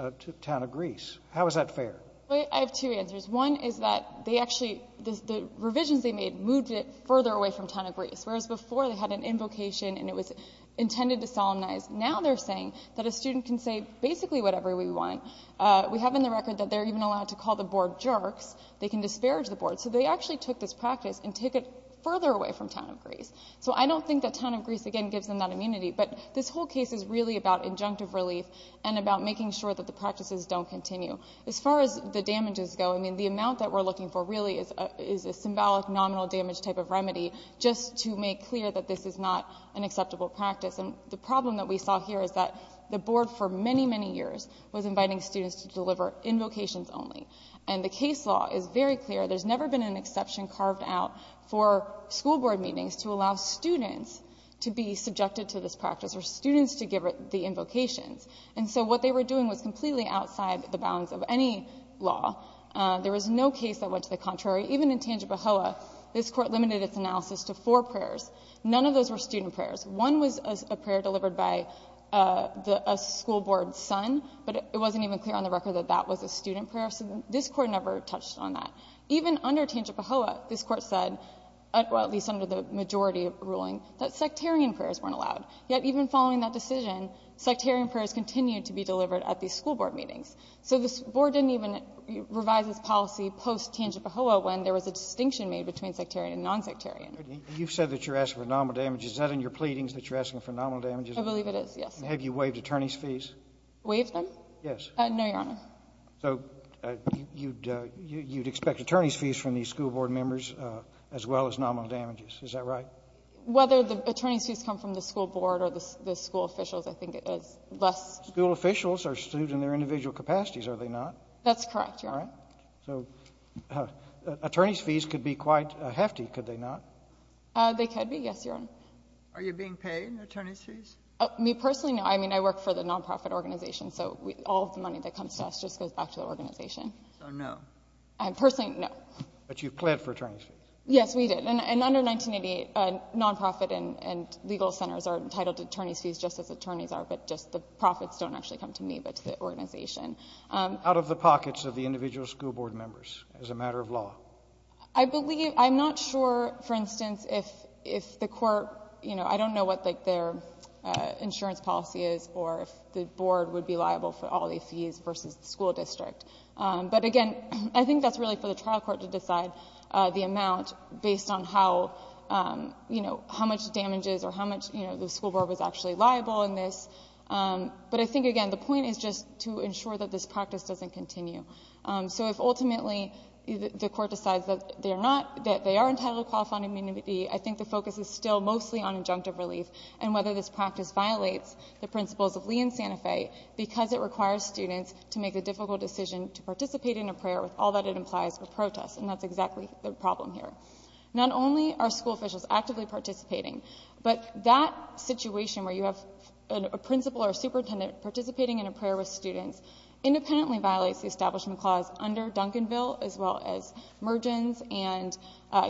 Town of Grace? How is that fair? I have two answers. One is that they actually, the revisions they made moved it further away from Town of Grace, whereas before they had an invocation and it was intended to solemnize. Now they're saying that a student can say basically whatever we want. We have in the record that they're even allowed to call the board jerks. They can disparage the board. So they actually took this practice and took it further away from Town of Grace. So I don't think that Town of Grace, again, gives them that immunity. But this whole case is really about injunctive relief and about making sure that the practices don't continue. As far as the damages go, I mean, the amount that we're looking for really is a symbolic nominal damage type of remedy just to make clear that this is not an acceptable practice. And the problem that we saw here is that the board for many, many years was inviting students to deliver invocations only. And the case law is very clear. There's never been an exception carved out for school board meetings to allow students to be subjected to this practice or students to give the invocations. And so what they were doing was completely outside the bounds of any law. There was no case that went to the contrary. Even in Tangibahoa, this Court limited its analysis to four prayers. None of those were student prayers. One was a prayer delivered by a school board son, but it wasn't even clear on the record that that was a student prayer. So this Court never touched on that. Even under Tangibahoa, this Court said, at least under the majority ruling, that sectarian prayers weren't allowed. Yet even following that decision, sectarian prayers continued to be delivered at these school board meetings. So this board didn't even revise its policy post-Tangibahoa when there was a distinction made between sectarian and nonsectarian. Sotomayor, you've said that you're asking for nominal damages. Is that in your pleadings that you're asking for nominal damages? I believe it is, yes. Have you waived attorneys' fees? Waived them? Yes. No, Your Honor. So you'd expect attorneys' fees from these school board members, as well as nominal damages. Is that right? Whether the attorneys' fees come from the school board or the school officials, I think it is less. School officials are students in their individual capacities, are they not? That's correct, Your Honor. So attorneys' fees could be quite hefty, could they not? They could be, yes, Your Honor. Are you being paid attorneys' fees? Me personally, no. I mean, I work for the non-profit organization, so all of the money that comes to us just goes back to the organization. So no? Personally, no. But you've pled for attorneys' fees? Yes, we did. And under 1988, non-profit and legal centers are entitled to attorneys' fees just as attorneys are, but just the profits don't actually come to me, but to the organization. Out of the pockets of the individual school board members, as a matter of law? I believe, I'm not sure, for instance, if the court, you know, I don't know what their insurance policy is or if the board would be liable for all the fees versus the school district, but again, I think that's really for the trial court to decide the amount based on how, you know, how much damage is or how much, you know, the school board was actually liable in this. But I think, again, the point is just to ensure that this practice doesn't continue. So if ultimately the court decides that they are not, that they are entitled to qualified non-immunity, I think the focus is still mostly on injunctive relief and whether this practice violates the principles of Lee and Santa Fe because it requires students to make a difficult decision to participate in a prayer with all that it implies for protest. And that's exactly the problem here. Not only are school officials actively participating, but that situation where you have a principal or superintendent participating in a prayer with students independently violates the Establishment Clause under Duncanville as well as Mergens and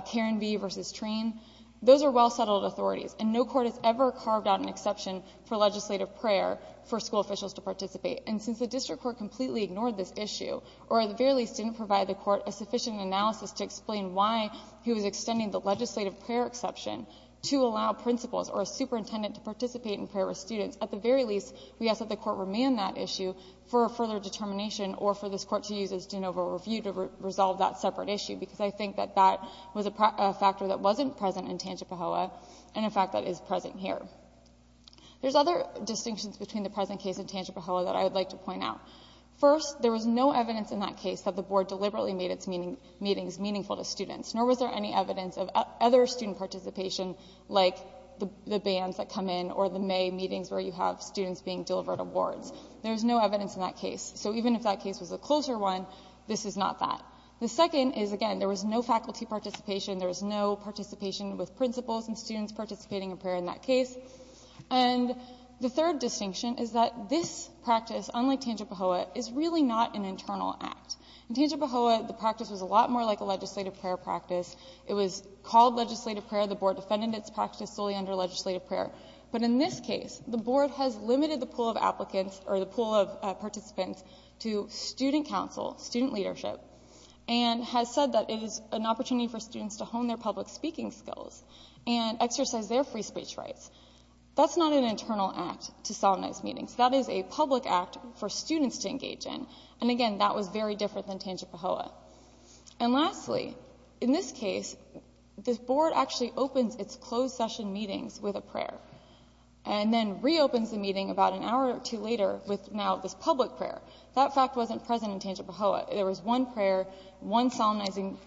Karen V. v. Treen. Those are well-settled authorities and no court has ever carved out an exception for legislative prayer for school officials to participate. And since the district court completely ignored this issue or at the very least didn't provide the court a sufficient analysis to explain why he was extending the legislative prayer exception to allow principals or a superintendent to participate in prayer with students, at the very least, we ask that the court remand that issue for a further determination or for this court to use as de novo review to resolve that separate issue because I think that that was a factor that wasn't present in Tangipahoa and, in fact, that is present here. There's other distinctions between the present case and Tangipahoa that I would like to point out. First, there was no evidence in that case that the Board deliberately made its meetings meaningful to students, nor was there any evidence of other student participation like the bans that come in or the May meetings where you have students being delivered awards. There's no evidence in that case. So even if that case was a closer one, this is not that. The second is, again, there was no faculty participation. There was no participation with principals and students participating in prayer in that case. And the third distinction is that this practice, unlike Tangipahoa, is really not an internal act. In Tangipahoa, the practice was a lot more like a legislative prayer practice. It was called legislative prayer. The Board defended its practice solely under legislative prayer. But in this case, the Board has limited the pool of applicants or the pool of participants to student council, student leadership, and has said that it is an opportunity for students to hone their public speaking skills and exercise their free speech rights. That's not an internal act to solemnize meetings. That is a public act for students to engage in. And again, that was very different than Tangipahoa. And lastly, in this case, the Board actually opens its closed session meetings with a prayer and then reopens the meeting about an hour or two later with now this public prayer. That fact wasn't present in Tangipahoa. There was one prayer, one solemnizing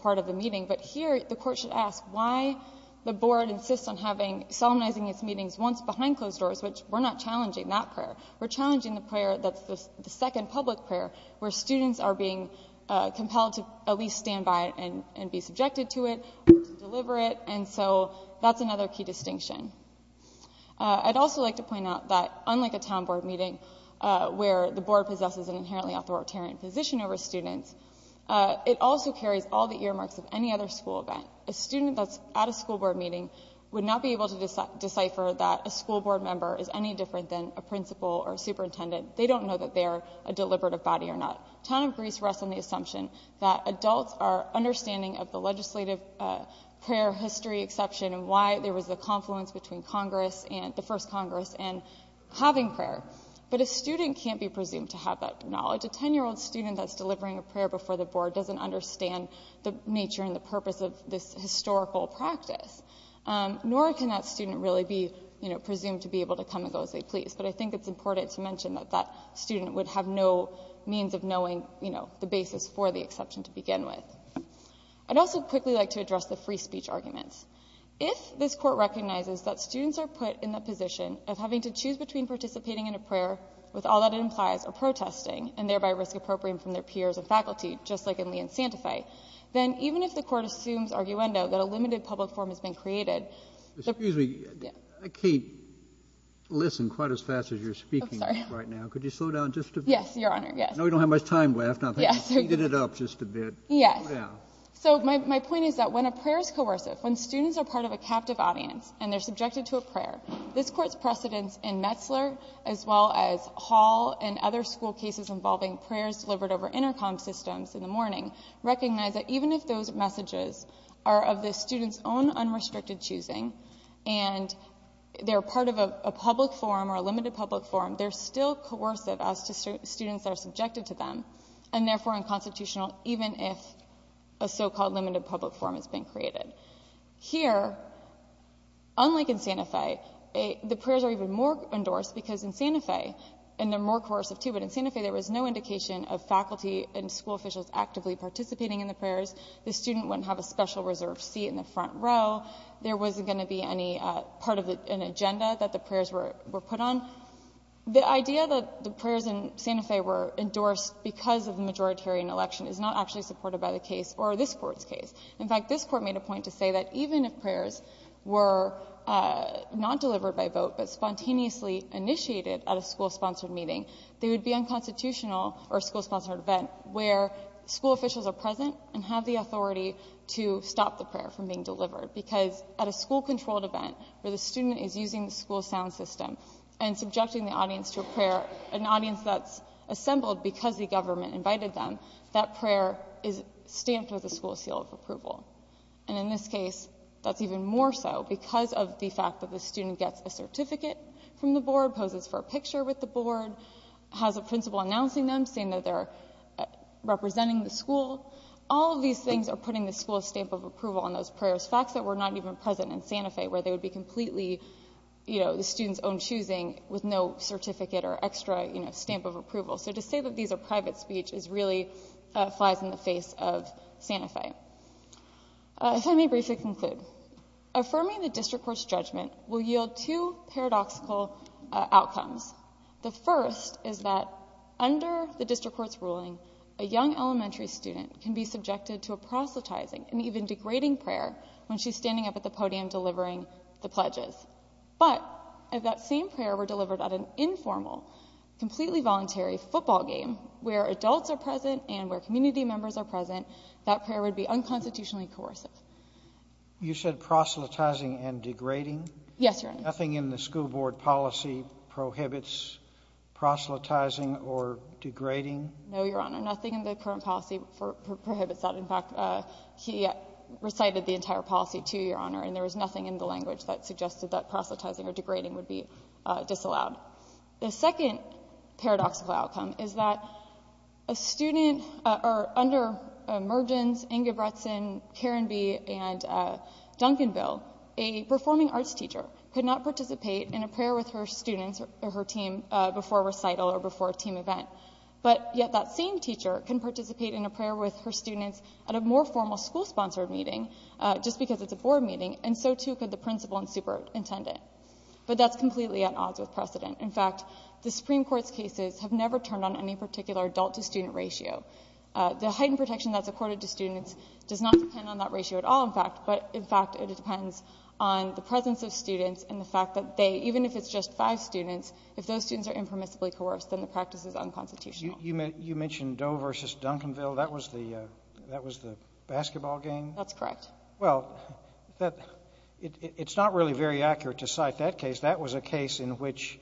part of the meeting. But here, the Court should ask why the Board insists on having solemnizing its meetings once behind closed doors, which we're not challenging that prayer. We're challenging the prayer that's the second public prayer, where students are being compelled to at least stand by it and be subjected to it, deliver it. And so that's another key distinction. I'd also like to point out that unlike a town board meeting, where the Board possesses an inherently authoritarian position over students, it also carries all the earmarks of any other school event. A student that's at a school board meeting would not be able to decipher that a school board member is any different than a principal or superintendent. They don't know that they're a deliberative body or not. Town of Greece rests on the assumption that adults are understanding of the legislative prayer history exception and why there was a confluence between Congress and the first Congress and having prayer. But a student can't be presumed to have that knowledge. A 10-year-old student that's delivering a prayer before the Board doesn't understand the nature and the purpose of this historical practice. Nor can that student really be, you know, presumed to be able to come and go as they please. But I think it's important to mention that that student would have no means of knowing, you know, the basis for the exception to begin with. I'd also quickly like to address the free speech arguments. If this Court recognizes that students are put in the position of having to choose between participating in a prayer, with all that it implies, or protesting and thereby risk appropriating from their peers and faculty, just like in Lee and Santa Fe, then even if the Court assumes arguendo that a limited public forum has been created. JUSTICE KENNEDY Excuse me. I can't listen quite as fast as you're speaking right now. Could you slow down just a bit? Yes, Your Honor, yes. JUSTICE KENNEDY No, we don't have much time left. I think you speeded it up just a bit. Yes, so my point is that when a prayer is coercive, when students are part of a captive audience and they're subjected to a prayer, this Court's precedence in Metzler, as well as Hall and other school cases involving prayers delivered over intercom systems in the morning, recognize that even if those messages are of the student's own unrestricted choosing and they're part of a public forum or a limited public forum, they're still coercive as to students that are subjected to them and therefore unconstitutional even if a so-called limited public forum has been created. Here, unlike in Santa Fe, the prayers are even more endorsed because in Santa Fe, and they're more coercive too, but in Santa Fe there was no indication of faculty and school officials actively participating in the prayers. The student wouldn't have a special reserved seat in the front row. There wasn't going to be any part of an agenda that the prayers were put on. The idea that the prayers in Santa Fe were endorsed because of the majoritarian election is not actually supported by the case or this Court's case. In fact, this Court made a point to say that even if prayers were not delivered by vote but spontaneously initiated at a school-sponsored meeting, they would be unconstitutional or school-sponsored event where school officials are present and have the authority to stop the prayer from being delivered because at a school-controlled event where the student is using the school sound system and subjecting the audience to a prayer, an audience that's assembled because the government invited them, that prayer is stamped with a school seal of approval. And in this case, that's even more so because of the fact that the student gets a certificate from the board, poses for a picture with the board, has a principal announcing them, saying that they're representing the school. All of these things are putting the school stamp of approval on those prayers, facts that were not even present in Santa Fe, where they would be completely the student's own choosing with no certificate or extra stamp of approval. So to say that these are private speech really flies in the face of Santa Fe. If I may briefly conclude. Affirming the District Court's judgment will yield two paradoxical outcomes. The first is that under the District Court's ruling, a young elementary student can be standing up at the podium delivering the pledges. But if that same prayer were delivered at an informal, completely voluntary football game where adults are present and where community members are present, that prayer would be unconstitutionally coercive. You said proselytizing and degrading? Yes, Your Honor. Nothing in the school board policy prohibits proselytizing or degrading? No, Your Honor. Nothing in the current policy prohibits that. He recited the entire policy, too, Your Honor, and there was nothing in the language that suggested that proselytizing or degrading would be disallowed. The second paradoxical outcome is that under Mergens, Ingebretson, Carenby, and Duncanville, a performing arts teacher could not participate in a prayer with her students or her team before a recital or before a team event. But yet that same teacher can participate in a prayer with her students at a more formal school-sponsored meeting just because it's a board meeting, and so too could the principal and superintendent. But that's completely at odds with precedent. In fact, the Supreme Court's cases have never turned on any particular adult-to-student ratio. The heightened protection that's accorded to students does not depend on that ratio at all, in fact, but in fact it depends on the presence of students and the fact that they, even if it's just five students, if those students are impermissibly coerced, then the You mentioned Doe versus Duncanville. That was the basketball game? That's correct. Well, it's not really very accurate to cite that case. That was a case in which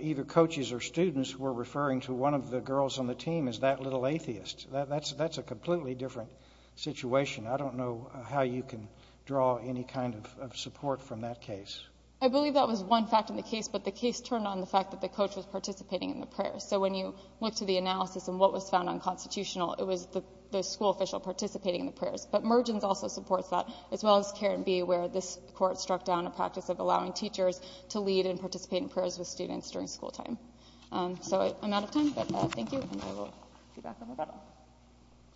either coaches or students were referring to one of the girls on the team as that little atheist. That's a completely different situation. I don't know how you can draw any kind of support from that case. I believe that was one fact in the case, but the case turned on the fact that the coach was participating in the prayer. So when you look to the analysis and what was found unconstitutional, it was the school official participating in the prayers. But Mergens also supports that, as well as Karen B., where this Court struck down a practice of allowing teachers to lead and participate in prayers with students during school time. So I'm out of time, but thank you, and I will be back on rebuttal.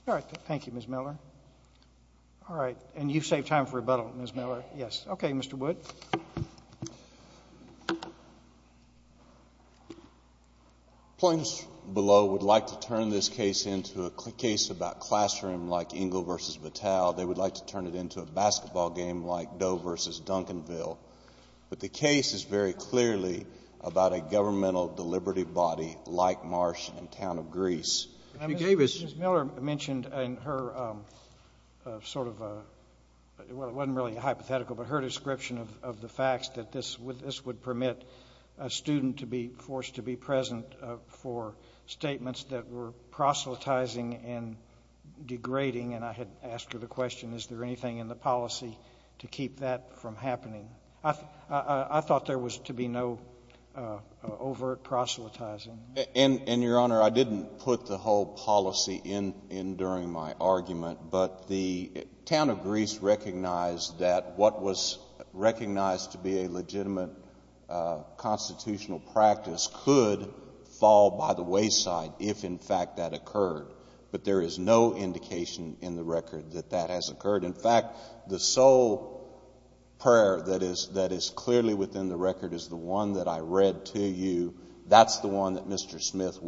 All right. Thank you, Ms. Miller. All right. And you saved time for rebuttal, Ms. Miller. Yes. Okay, Mr. Wood. The plaintiffs below would like to turn this case into a case about classroom, like Engle v. Vitale. They would like to turn it into a basketball game, like Doe v. Duncanville. But the case is very clearly about a governmental deliberative body like Marsh in the town of Greece. Ms. Miller mentioned in her sort of, well, it wasn't really hypothetical, but her description of the facts that this would permit a student to be forced to be present for statements that were proselytizing and degrading, and I had asked her the question, is there anything in the policy to keep that from happening? I thought there was to be no overt proselytizing. And, Your Honor, I didn't put the whole policy in during my argument, but the town of Greece recognized that what was recognized to be a legitimate constitutional practice could fall by the wayside if, in fact, that occurred. But there is no indication in the record that that has occurred. In fact, the sole prayer that is clearly within the record is the one that I read to you. That's the one that Mr. Smith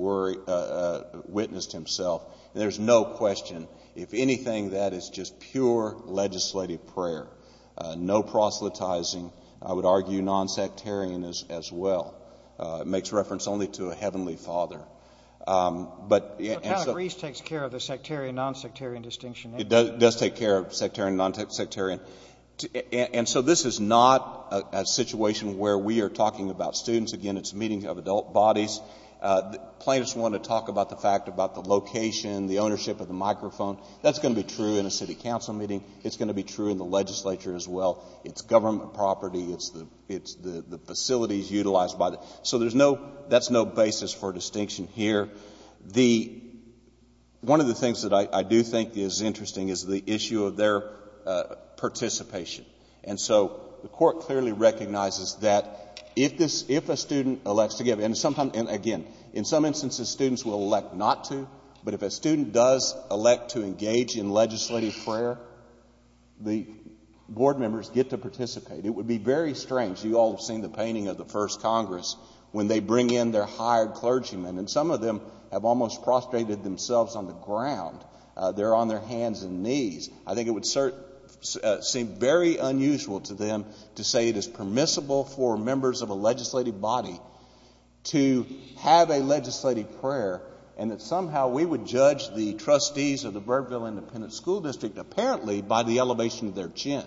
witnessed himself. There's no question. If anything, that is just pure legislative prayer. No proselytizing. I would argue nonsectarian as well. It makes reference only to a heavenly father. But the town of Greece takes care of the sectarian, nonsectarian distinction. It does take care of sectarian, nonsectarian. And so this is not a situation where we are talking about students. Again, it's a meeting of adult bodies. Plaintiffs want to talk about the fact about the location, the ownership of the microphone. That's going to be true in a city council meeting. It's going to be true in the legislature as well. It's government property. It's the facilities utilized by the — so there's no — that's no basis for distinction here. The — one of the things that I do think is interesting is the issue of their participation. And so the Court clearly recognizes that if this — if a student elects to give — and sometimes — and again, in some instances, students will elect not to. But if a student does elect to engage in legislative prayer, the board members get to participate. It would be very strange — you all have seen the painting of the first Congress when they bring in their hired clergymen, and some of them have almost prostrated themselves on the ground. They're on their hands and knees. I think it would seem very unusual to them to say it is permissible for members of a legislative body to have a legislative prayer, and that somehow we would judge the trustees of the Birdville Independent School District apparently by the elevation of their chin.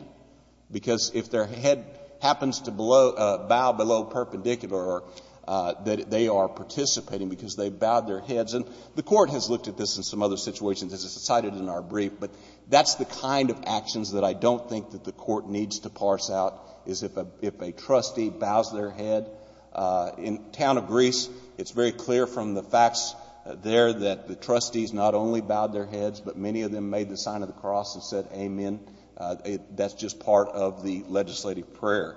Because if their head happens to bow below perpendicular, that they are participating because they bowed their heads. And the Court has looked at this in some other situations, as it's cited in our brief. But that's the kind of actions that I don't think that the Court needs to parse out, is if a trustee bows their head. In the town of Greece, it's very clear from the facts there that the trustees not only bowed their heads, but many of them made the sign of the cross and said amen. That's just part of the legislative prayer.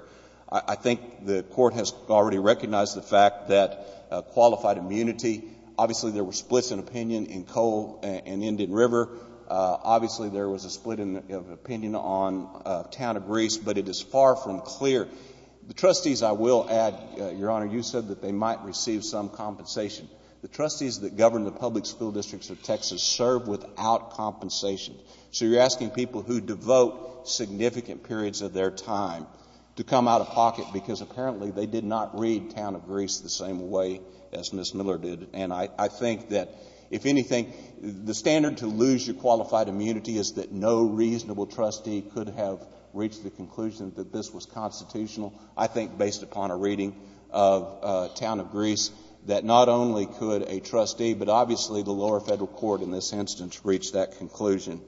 I think the Court has already recognized the fact that qualified immunity — obviously, there were splits in opinion in Coal and Indian River. Obviously, there was a split of opinion on town of Greece, but it is far from clear. The trustees, I will add, Your Honor, you said that they might receive some compensation. The trustees that govern the public school districts of Texas serve without compensation. So you're asking people who devote significant periods of their time to come out of pocket because apparently they did not read town of Greece the same way as Ms. Miller did. And I think that, if anything, the standard to lose your qualified immunity is that no reasonable trustee could have reached the conclusion that this was constitutional. I think, based upon a reading of town of Greece, that not only could a trustee, but obviously the lower federal court in this instance, reach that conclusion.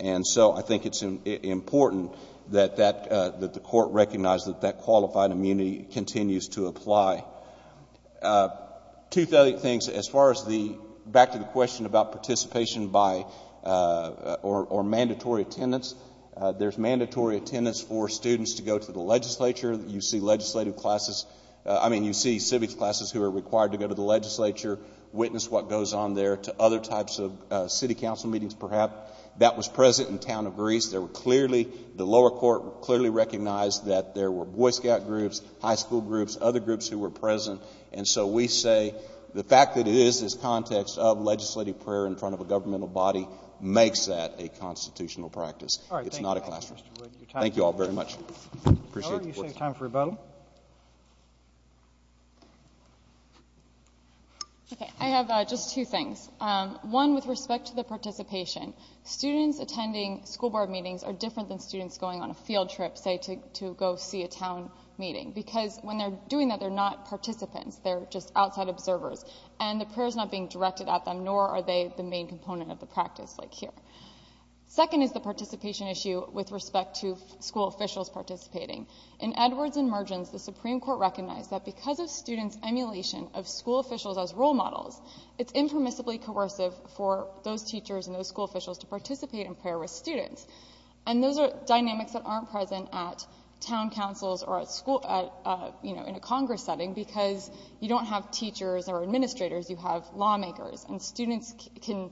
And so I think it's important that the Court recognize that that qualified immunity continues to apply. Two things. As far as the — back to the question about participation by — or mandatory attendance. There's mandatory attendance for students to go to the legislature. You see legislative classes — I mean, you see civics classes who are required to go to the legislature, witness what goes on there, to other types of city council meetings, perhaps. That was present in town of Greece. There were clearly — the lower court clearly recognized that there were Boy Scout groups, high school groups, other groups who were present. And so we say the fact that it is this context of legislative prayer in front of a governmental body makes that a constitutional practice. All right. Thank you. It's not a classroom. Thank you all very much. Appreciate it. Miller, you save time for rebuttal. Okay. I have just two things. One with respect to the participation. Students attending school board meetings are different than students going on a field trip, say, to go see a town meeting. When they're doing that, they're not participants. They're just outside observers. And the prayer is not being directed at them, nor are they the main component of the practice like here. Second is the participation issue with respect to school officials participating. In Edwards and Mergens, the Supreme Court recognized that because of students' emulation of school officials as role models, it's impermissibly coercive for those teachers and those school officials to participate in prayer with students. And those are dynamics that aren't present at town councils or in a Congress setting because you don't have teachers or administrators. You have lawmakers. And students can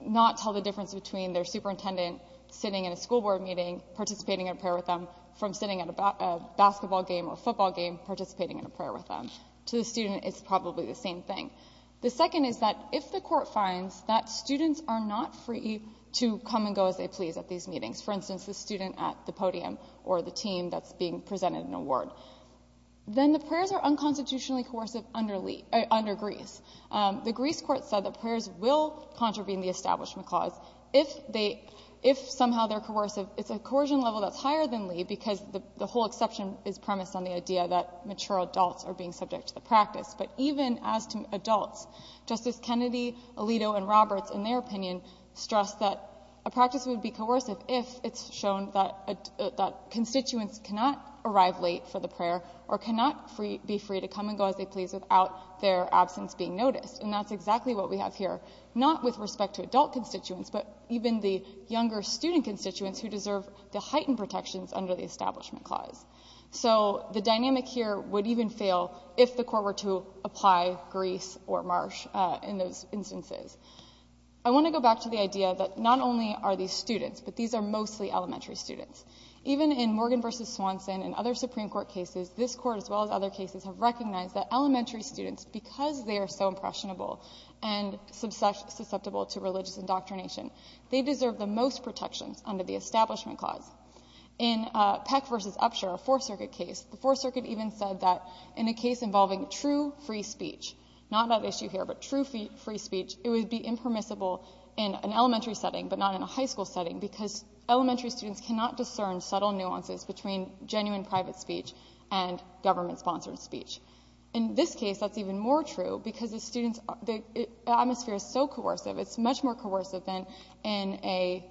not tell the difference between their superintendent sitting in a school board meeting, participating in a prayer with them, from sitting at a basketball game or a football game, participating in a prayer with them. To the student, it's probably the same thing. The second is that if the court finds that students are not free to come and go as they please at these meetings, for instance, the student at the podium or the team that's being presented an award, then the prayers are unconstitutionally coercive under Greece. The Greece court said that prayers will contravene the Establishment Clause if somehow they're coercive. It's a coercion level that's higher than Lee because the whole exception is premised on the idea that mature adults are being subject to the practice. But even as to adults, Justice Kennedy, Alito, and Roberts, in their opinion, stress that a practice would be coercive if it's shown that constituents cannot arrive late for the prayer or cannot be free to come and go as they please without their absence being noticed. And that's exactly what we have here, not with respect to adult constituents, but even the younger student constituents who deserve the heightened protections under the Establishment Clause. So the dynamic here would even fail if the court were to apply Greece or Marsh in those instances. I want to go back to the idea that not only are these students, but these are mostly elementary students. Even in Morgan v. Swanson and other Supreme Court cases, this court, as well as other cases, have recognized that elementary students, because they are so impressionable and susceptible to religious indoctrination, they deserve the most protections under the Establishment Clause. In Peck v. Upshur, a Fourth Circuit case, the Fourth Circuit even said that in a case involving true free speech, not an issue here, but true free speech, it would be impermissible in an elementary setting, but not in a high school setting, because elementary students cannot discern subtle nuances between genuine private speech and government-sponsored speech. In this case, that's even more true, because the students, the atmosphere is so coercive, it's much more coercive than in an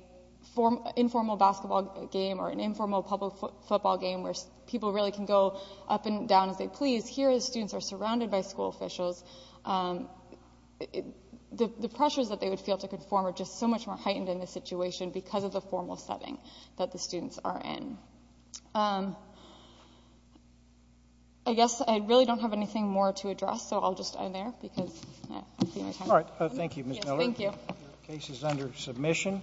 informal basketball game or an informal public football game where people really can go up and down as they please. Here, the students are surrounded by school officials. The pressures that they would feel to conform are just so much more heightened in this situation because of the formal setting that the students are in. I guess I really don't have anything more to address, so I'll just end there, because I'm running out of time. All right. Thank you, Ms. Miller. Thank you. Your case is under submission.